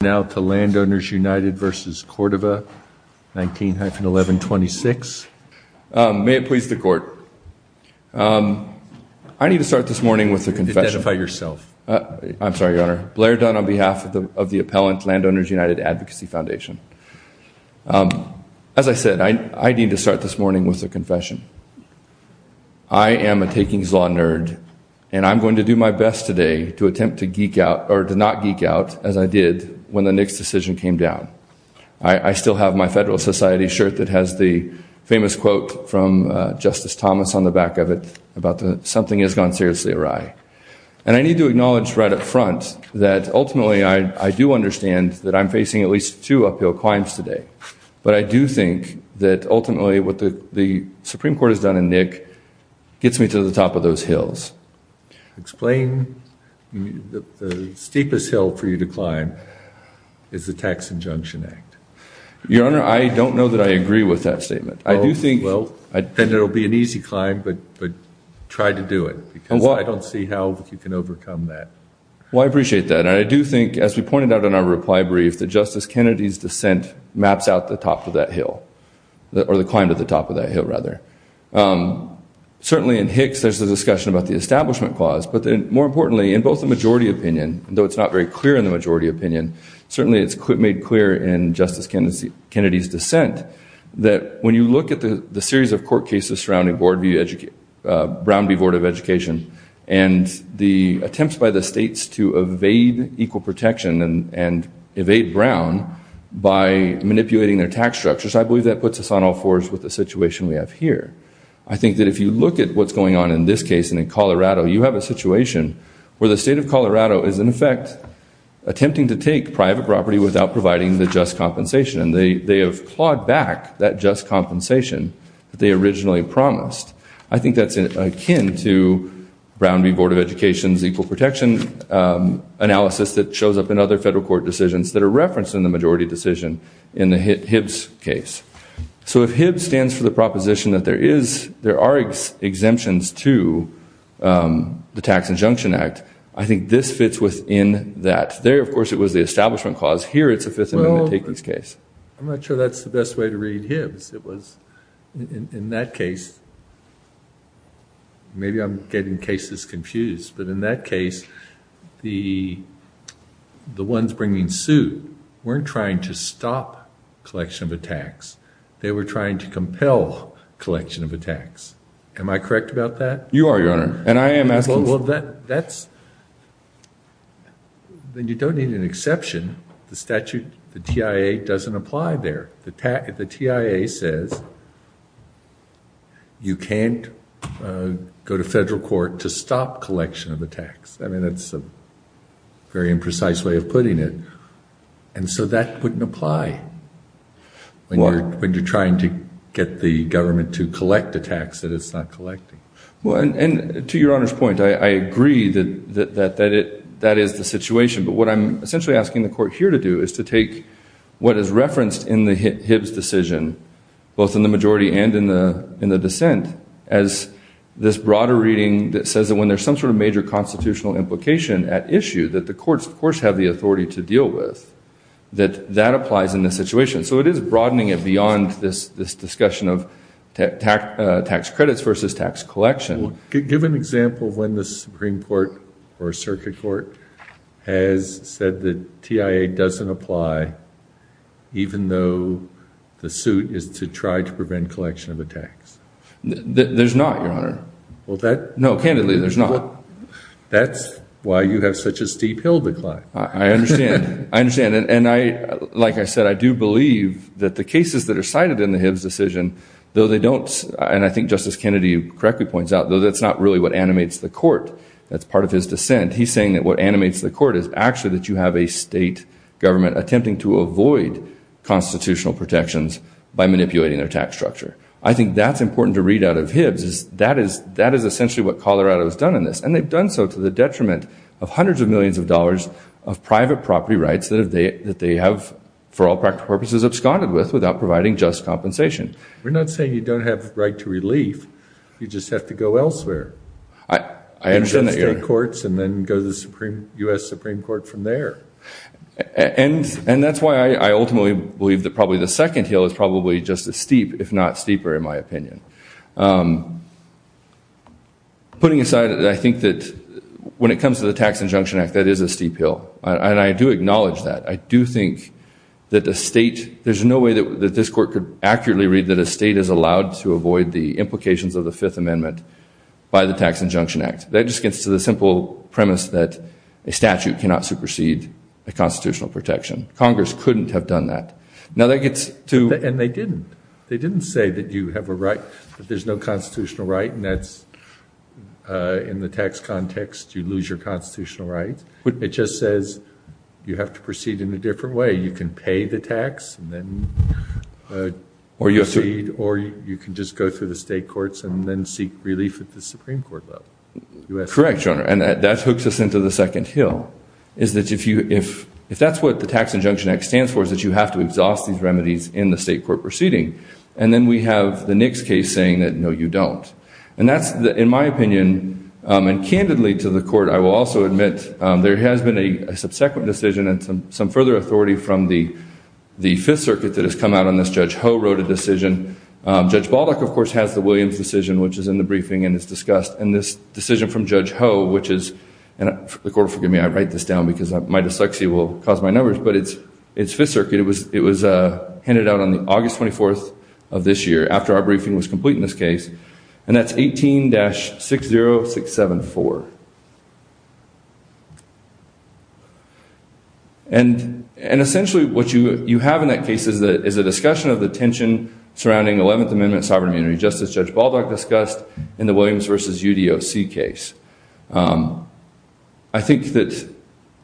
Now to Landowners United v. Cordova 19-1126 May it please the court. I need to start this morning with a confession. Identify yourself. I'm sorry your honor. Blair Dunn on behalf of the appellant Landowners United Advocacy Foundation. As I said I need to start this morning with a confession. I am a takings law nerd and I'm going to do my best today to attempt to geek out or to not geek out as I did when the Nicks decision came down. I still have my Federalist Society shirt that has the famous quote from Justice Thomas on the back of it about something has gone seriously awry. And I need to acknowledge right up front that ultimately I do understand that I'm facing at least two uphill climbs today. But I do think that ultimately what the Supreme Court has done in Nick gets me to the top of those hills. The steepest hill for you to climb is the Tax Injunction Act. Your honor I don't know that I agree with that statement. I do think. Then it will be an easy climb but try to do it because I don't see how you can overcome that. Well I appreciate that and I do think as we pointed out in our reply brief that Justice Kennedy's dissent maps out the top of that hill or the climb to the top of that hill rather. Certainly in Hicks there's a establishment clause but then more importantly in both the majority opinion, though it's not very clear in the majority opinion, certainly it's made clear in Justice Kennedy's dissent that when you look at the series of court cases surrounding Brown v. Board of Education and the attempts by the states to evade equal protection and evade Brown by manipulating their tax structures I believe that puts us on all fours with the situation we have here. I think that if you look at what's going on in this case in Colorado you have a situation where the state of Colorado is in effect attempting to take private property without providing the just compensation. They have clawed back that just compensation that they originally promised. I think that's akin to Brown v. Board of Education's equal protection analysis that shows up in other federal court decisions that are referenced in the majority decision in the Hibbs case. So if Hibbs stands for the proposition that there are exemptions to the Tax Injunction Act, I think this fits within that. There of course it was the establishment clause. Here it's the Fifth Amendment taking this case. Well, I'm not sure that's the best way to read Hibbs. It was in that case, maybe I'm wrong. They were trying to stop collection of attacks. They were trying to compel collection of attacks. Am I correct about that? You are, Your Honor. And I am asking for that. You don't need an exception. The statute, the TIA doesn't apply there. The TIA says you can't go to federal court to stop collection of attacks. I mean, that's a very imprecise way of putting it. And so that wouldn't apply when you're trying to get the government to collect attacks that it's not collecting. And to Your Honor's point, I agree that that is the situation. But what I'm essentially asking the Court here to do is to take what is referenced in the Hibbs decision, both in the majority and in the dissent, as this broader reading that says that when there's some sort of major constitutional implication at issue that the courts, of course, have the authority to deal with, that that applies in this situation. So it is broadening it beyond this discussion of tax credits versus tax collection. Give an example of when the Supreme Court or Circuit Court has said that TIA doesn't apply even though the suit is to try to prevent collection of attacks. There's not, Your Honor. Well, that... No, candidly, there's not. That's why you have such a steep hill to climb. I understand. I understand. And I, like I said, I do believe that the cases that are cited in the Hibbs decision, though they don't, and I think Justice Kennedy correctly points out, though that's not really what animates the Court, that's part of his dissent, he's saying that what animates the Court is actually that you have a state government attempting to avoid constitutional protections by manipulating their tax structure. I think that's important to read out of Hibbs, is that is essentially what Colorado has done in this. And they've done so to the detriment of hundreds of millions of dollars of private property rights that they have, for all practical purposes, absconded with without providing just compensation. We're not saying you don't have the right to relief. You just have to go elsewhere. I understand that, Your Honor. You just take courts and then go to the U.S. Supreme Court from there. And that's why I ultimately believe that probably the second hill is probably just as steep, if not steeper, in my opinion. Putting aside, I think that when it comes to the Tax Injunction Act, that is a steep hill. And I do acknowledge that. I do think that a state, there's no way that this Court could accurately read that a state is allowed to avoid the implications of the Fifth Amendment by the Tax Injunction Act. That just gets to the simple premise that a statute cannot supersede a constitutional protection. Congress couldn't have done that. Now that gets to And they didn't. They didn't say that you have a right, that there's no constitutional right and that's, in the tax context, you lose your constitutional right. It just says you have to proceed in a different way. You can pay the tax and then proceed, or you can just go through the state courts and then seek relief at the Supreme Court level. Correct, Your Honor. And that hooks us into the second hill. If that's what the Tax Injunction Act stands for, it's that you have to exhaust these remedies in the state court proceeding. And then we have the Nix case saying that, no, you don't. And that's, in my opinion, and candidly to the Court, I will also admit there has been a subsequent decision and some further authority from the Fifth Circuit that has come out on this. Judge Ho wrote a decision. Judge Baldock, of course, has the Williams decision, which is in the briefing and is discussed. And this decision from Judge Ho, which is, and the Court will forgive me, I can't write this down because my dyslexia will cause my numbers, but it's Fifth Circuit. It was handed out on the August 24th of this year after our briefing was complete in this case. And that's 18-60674. And essentially what you have in that case is a discussion of the tension surrounding 11th Amendment sovereign immunity, just as Judge Baldock discussed in the Williams v. UDOC case. I think that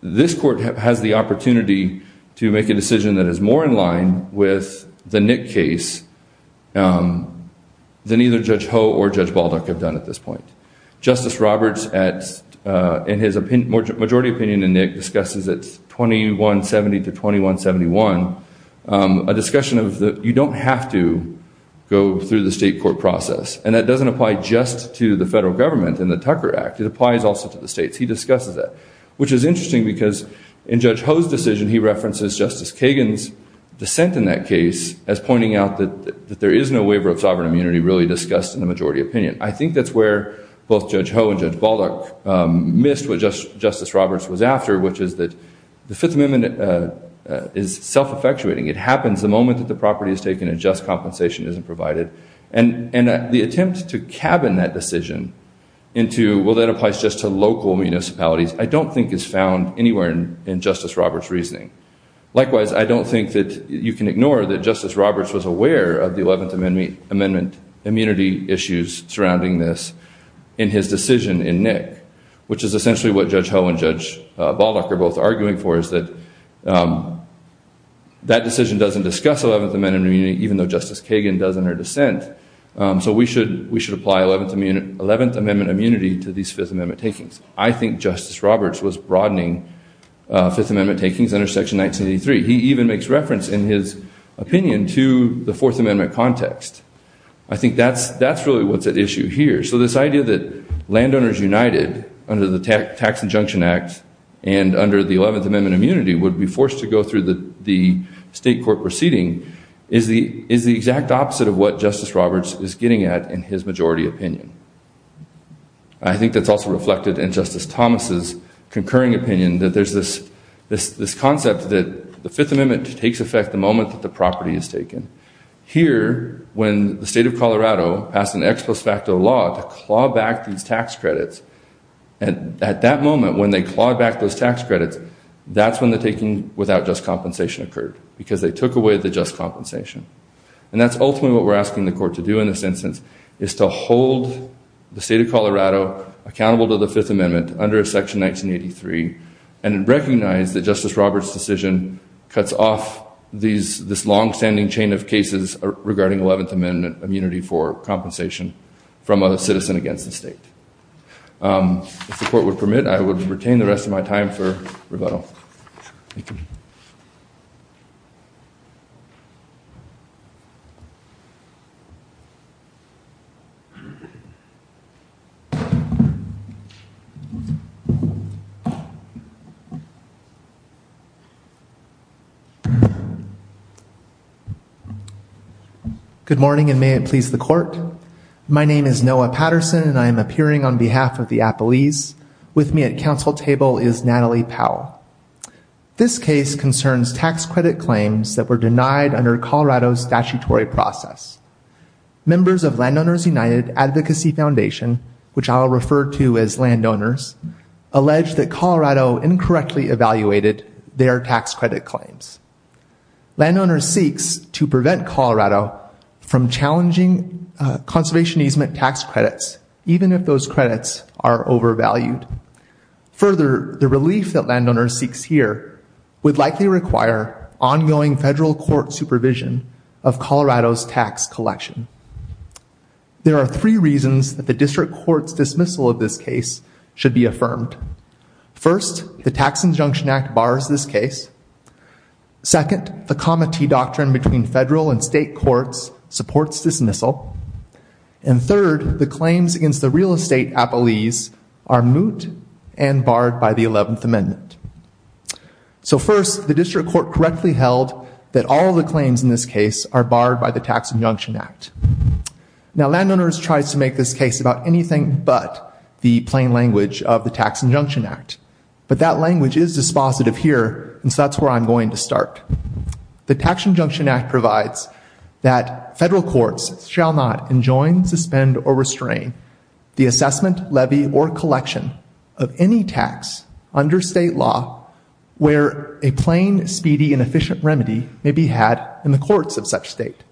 this Court has the opportunity to make a decision that is more in line with the Nix case than either Judge Ho or Judge Baldock have done at this point. Justice Roberts, in his majority opinion in Nix, discusses it 2170 to 2171, a discussion of the, you don't have to go through the state court process. And that doesn't apply just to the federal government and the Tucker Act. It applies also to the states. He discusses that, which is interesting because in Judge Ho's decision, he references Justice Kagan's dissent in that case as pointing out that there is no waiver of sovereign immunity really discussed in the majority opinion. I think that's where both Judge Ho and Judge Baldock missed what Justice Roberts was after, which is that the Fifth Amendment is self-effectuating. It happens the moment that the property is taken and just compensation isn't provided. And the attempt to cabin that decision into, well, that applies just to local municipalities, I don't think is found anywhere in Justice Roberts' reasoning. Likewise, I don't think that you can ignore that Justice Roberts was aware of the 11th Amendment immunity issues surrounding this in his decision in Nix, which is essentially what Judge Ho and Judge Baldock are both arguing for, is that that decision doesn't discuss 11th Amendment immunity, even though Justice Kagan does in her dissent. So we should apply 11th Amendment immunity to these Fifth Amendment takings. I think Justice Roberts was broadening Fifth Amendment takings under Section 1983. He even makes reference in his opinion to the Fourth Amendment context. I think that's really what's at issue here. So this idea that landowners united under the Tax Injunction Act and under the state court proceeding is the exact opposite of what Justice Roberts is getting at in his majority opinion. I think that's also reflected in Justice Thomas' concurring opinion that there's this concept that the Fifth Amendment takes effect the moment that the property is taken. Here, when the state of Colorado passed an ex post facto law to claw back these tax credits, at that moment when they clawed back those tax credits, that's when the taking without just compensation occurred, because they took away the just compensation. And that's ultimately what we're asking the court to do in this instance, is to hold the state of Colorado accountable to the Fifth Amendment under Section 1983 and recognize that Justice Roberts' decision cuts off this longstanding chain of cases regarding 11th Amendment immunity for compensation from a citizen against the state. If the court would permit, I would like to invite Noah Patterson to come up to the podium. Good morning, and may it please the court. My name is Noah Patterson, and I am appearing on behalf of the Appalese. With me at counsel table is Natalie Powell. This case concerns tax credit claims that were denied under Colorado's statutory process. Members of Landowners United Advocacy Foundation, which I'll refer to as Landowners, allege that Colorado incorrectly evaluated their tax credit claims. Landowners seeks to prevent Colorado from challenging conservation easement tax credits, even if those credits are overvalued. Further, the relief that Landowners seeks here would likely require ongoing federal court supervision of Colorado's tax collection. There are three reasons that the district court's dismissal of this case should be affirmed. First, the Tax Injunction Act bars this case. Second, the comma T doctrine between federal and state courts supports dismissal. And third, the claims against the real estate Appalese are moot and barred by the 11th Amendment. So first, the district court correctly held that all the claims in this case are barred by the Tax Injunction Act. Now, Landowners tries to make this case about anything but the plain language of the Tax Injunction Act, but that language is dispositive here, and so that's where I'm going to start. The Tax Injunction Act provides that federal courts shall not enjoin, suspend, or restrain the assessment, levy, or collection of any tax under state law where a plain, speedy, and efficient remedy may be had in the courts of such state.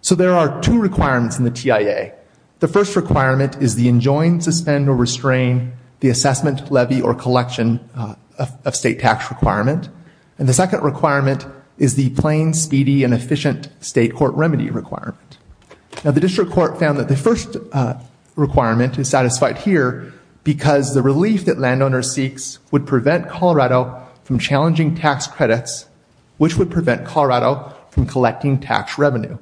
So there are two requirements in the TIA. The first requirement is the enjoin, suspend, or restrain the assessment, levy, or collection of state tax requirement. And the second requirement is the plain, speedy, and efficient state court remedy requirement. Now, the district court found that the first requirement is satisfied here because the relief that landowners seeks would prevent Colorado from challenging tax credits, which would prevent Colorado from collecting tax revenue.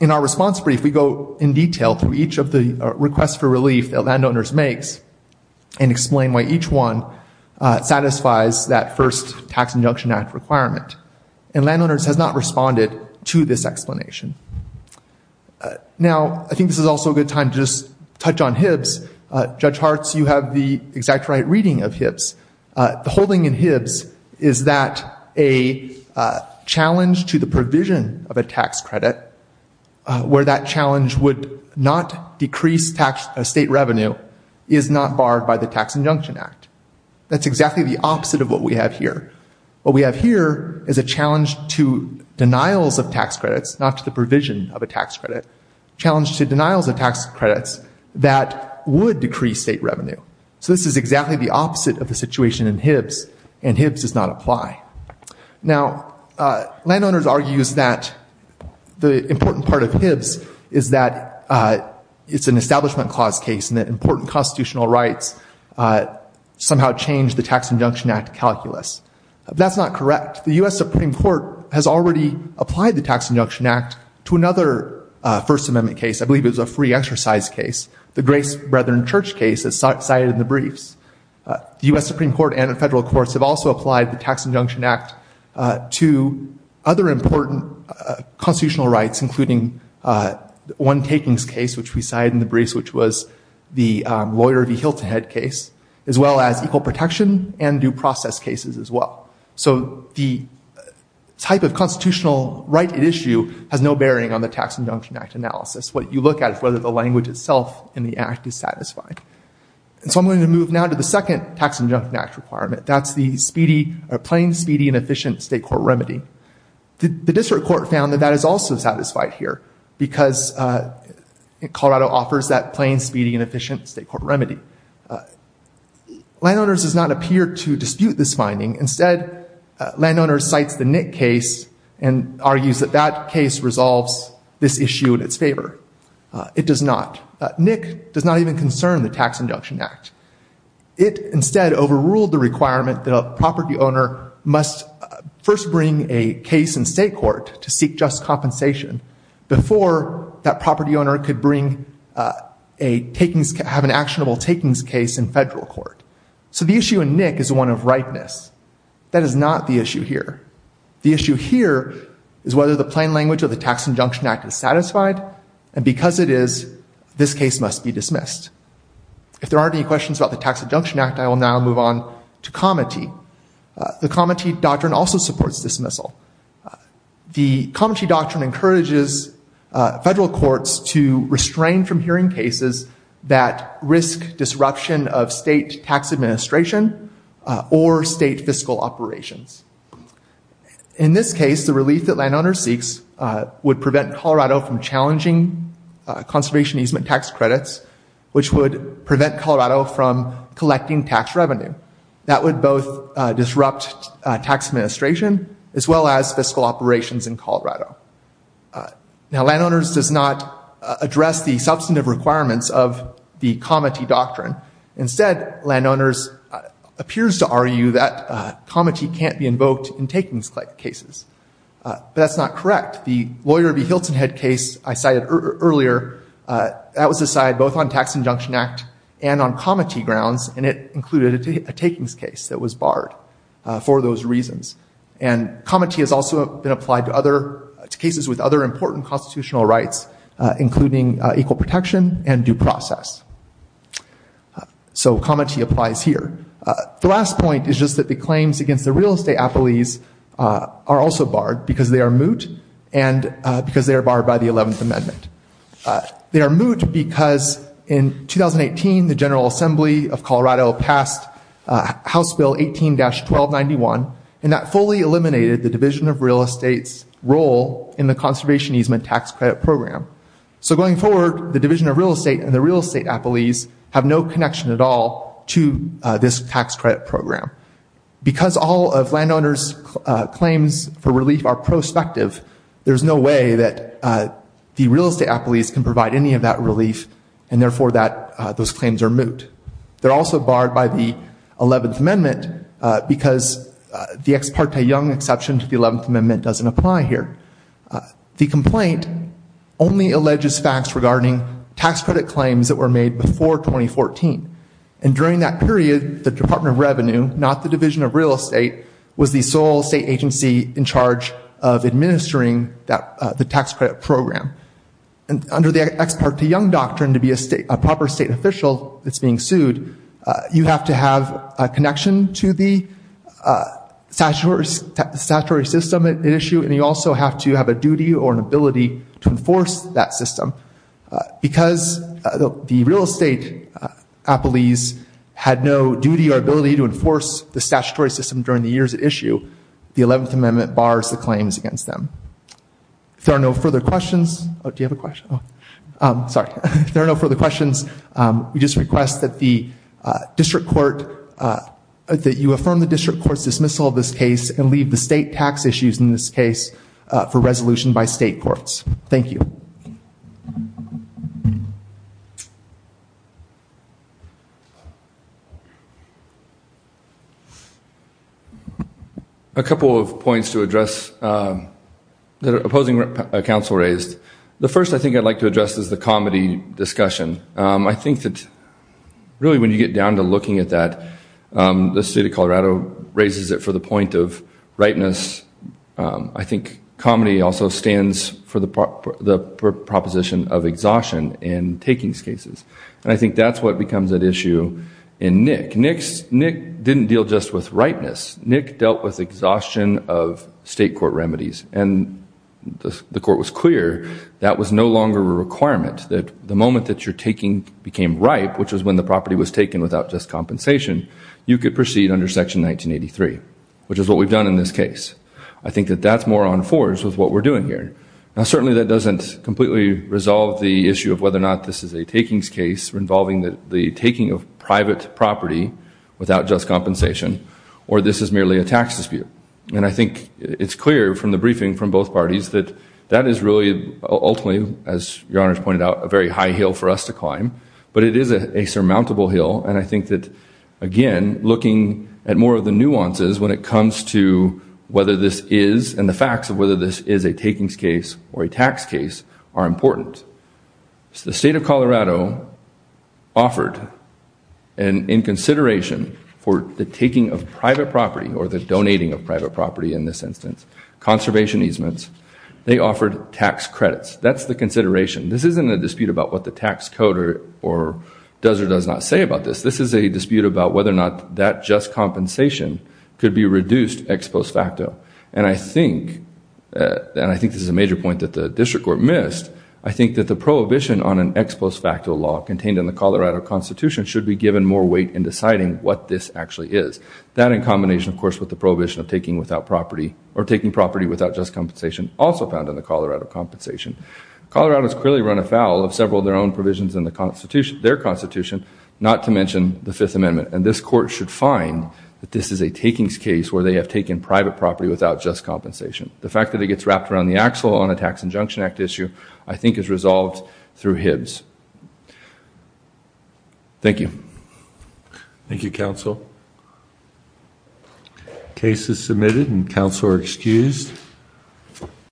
In our response brief, we go in detail through each of the requests for relief that landowners makes and explain why each one satisfies that first Tax Injunction Act requirement. And Landowners has not responded to this explanation. Now I think this is also a good time to just touch on HIBs. Judge Hartz, you have the exact right reading of HIBs. The holding in HIBs is that a challenge to the provision of a tax state revenue is not barred by the Tax Injunction Act. That's exactly the opposite of what we have here. What we have here is a challenge to denials of tax credits, not to the provision of a tax credit, challenge to denials of tax credits that would decrease state revenue. So this is exactly the opposite of the situation in HIBs, and HIBs does not apply. Now, Landowners argues that the important part of HIBs is that it's an establishment clause case and that important constitutional rights somehow change the Tax Injunction Act calculus. That's not correct. The U.S. Supreme Court has already applied the Tax Injunction Act to another First Amendment case. I believe it was a free exercise case. The Grace Brethren Church case is cited in the briefs. The U.S. Supreme Court and the federal courts have also applied the Tax Injunction Act to other important constitutional rights, including one takings case, which we cited in the briefs, which was the lawyer v. Hiltahead case, as well as equal protection and due process cases as well. So the type of constitutional right at issue has no bearing on the Tax Injunction Act analysis. What you look at is whether the language itself in the Act is satisfied. And so I'm going to move now to the second Tax Injunction Act requirement. That's the speedy or plain speedy and efficient state court remedy. The district court found that that is also satisfied here because Colorado offers that plain, speedy, and efficient state court remedy. Landowners does not appear to dispute this finding. Instead, landowners cites the Nick case and argues that that case resolves this issue in its favor. It does not. Nick does not even concern the Tax Injunction Act. It instead overruled the requirement that a property owner must first bring a case in state court to seek just compensation before that property owner could bring a takings case, have an actionable takings case in federal court. So the issue in Nick is one of rightness. That is not the issue here. The issue here is whether the plain language of the Tax Injunction Act is satisfied. And because it is, this case must be dismissed. If there aren't any questions about the Tax Injunction Act, I will now move on to Comity. The Comity Doctrine also supports dismissal. The Comity Doctrine encourages federal courts to restrain from hearing cases that risk disruption of state tax administration or state fiscal operations. In this case, the relief that landowners seeks would prevent Colorado from challenging conservation easement tax credits, which would prevent Colorado from collecting tax revenue. That would both disrupt tax administration as well as fiscal operations in Colorado. Now, landowners does not address the substantive requirements of the Comity Doctrine. Instead, landowners appears to argue that Comity can't be invoked in takings cases. But that's not correct. The Lawyer v. Hilton Head case I cited earlier, that was decided both on Tax Injunction Act and on Comity grounds, and it included a takings case that was barred for those reasons. And Comity has also been applied to other cases with other important constitutional rights, including equal protection and due process. So Comity applies here. The last point is just that the claims against the real estate appellees are also barred because they are moot and because they are barred by the 11th Amendment. They are moot because in 2018, the General Assembly of Colorado passed House Bill 18-1291, and that fully eliminated the Division of Real Estate's role in the conservation easement tax credit program. So going forward, the Division of Real Estate and the real estate appellees have no connection at all to this tax credit program. Because all of landowners' claims for relief are prospective, there's no way that the real estate appellees can provide any of that relief, and therefore those claims are moot. They're also barred by the 11th Amendment. The only exception to the 11th Amendment doesn't apply here. The complaint only alleges facts regarding tax credit claims that were made before 2014. And during that period, the Department of Revenue, not the Division of Real Estate, was the sole state agency in charge of administering the tax credit program. And under the ex parte young doctrine to be a proper state official that's being sued, you have to have a connection to the statutory system at issue, and you also have to have a duty or an ability to enforce that system. Because the real estate appellees had no duty or ability to enforce the statutory system during the years at issue, the 11th Amendment bars the claims against them. If there are no further questions, we just request that the District Court assume that you affirm the District Court's dismissal of this case and leave the state tax issues in this case for resolution by state courts. Thank you. A couple of points to address that opposing counsel raised. The first I think I'd like to address is the comedy discussion. I think that really when you get down to looking at that, the state of Colorado raises it for the point of ripeness. I think comedy also stands for the proposition of exhaustion in takings cases. And I think that's what becomes at issue in Nick. Nick didn't deal just with ripeness. Nick dealt with exhaustion of state court remedies. And the court was clear that was no longer a requirement, that the moment that you're taking became ripe, which was when the property was taken without just compensation, you could proceed under Section 1983, which is what we've done in this case. I think that that's more on fours with what we're doing here. Now certainly that doesn't completely resolve the issue of whether or not this is a takings case involving the taking of private property without just compensation, or this is merely a tax dispute. And I think it's clear from the briefing from both parties that that is really ultimately, as your Honor has pointed out, a very high hill for us to climb. But it is a surmountable hill. And I think that, again, looking at more of the nuances when it comes to whether this is, and the facts of whether this is a takings case or a tax case, are important. The state of Colorado offered, and in consideration for the taking of private property, or the donating of private property in this instance, conservation easements, they offered tax credits. That's the consideration. This isn't a dispute about what the tax code does or does not say about this. This is a dispute about whether or not that just compensation could be reduced ex post facto. And I think, and I think this is a major point that the District Court missed, I think that the prohibition on an ex post facto law contained in the Colorado Constitution should be given more weight in deciding what this actually is. That in combination, of course, with the prohibition of taking without property, or taking property without just compensation. Colorado has clearly run afoul of several of their own provisions in the Constitution, their Constitution, not to mention the Fifth Amendment. And this Court should find that this is a takings case where they have taken private property without just compensation. The fact that it gets wrapped around the axle on a Tax Injunction Act issue, I think is resolved through Hibbs. Thank you. Thank you, Counsel. Case is submitted and Counsel are excused.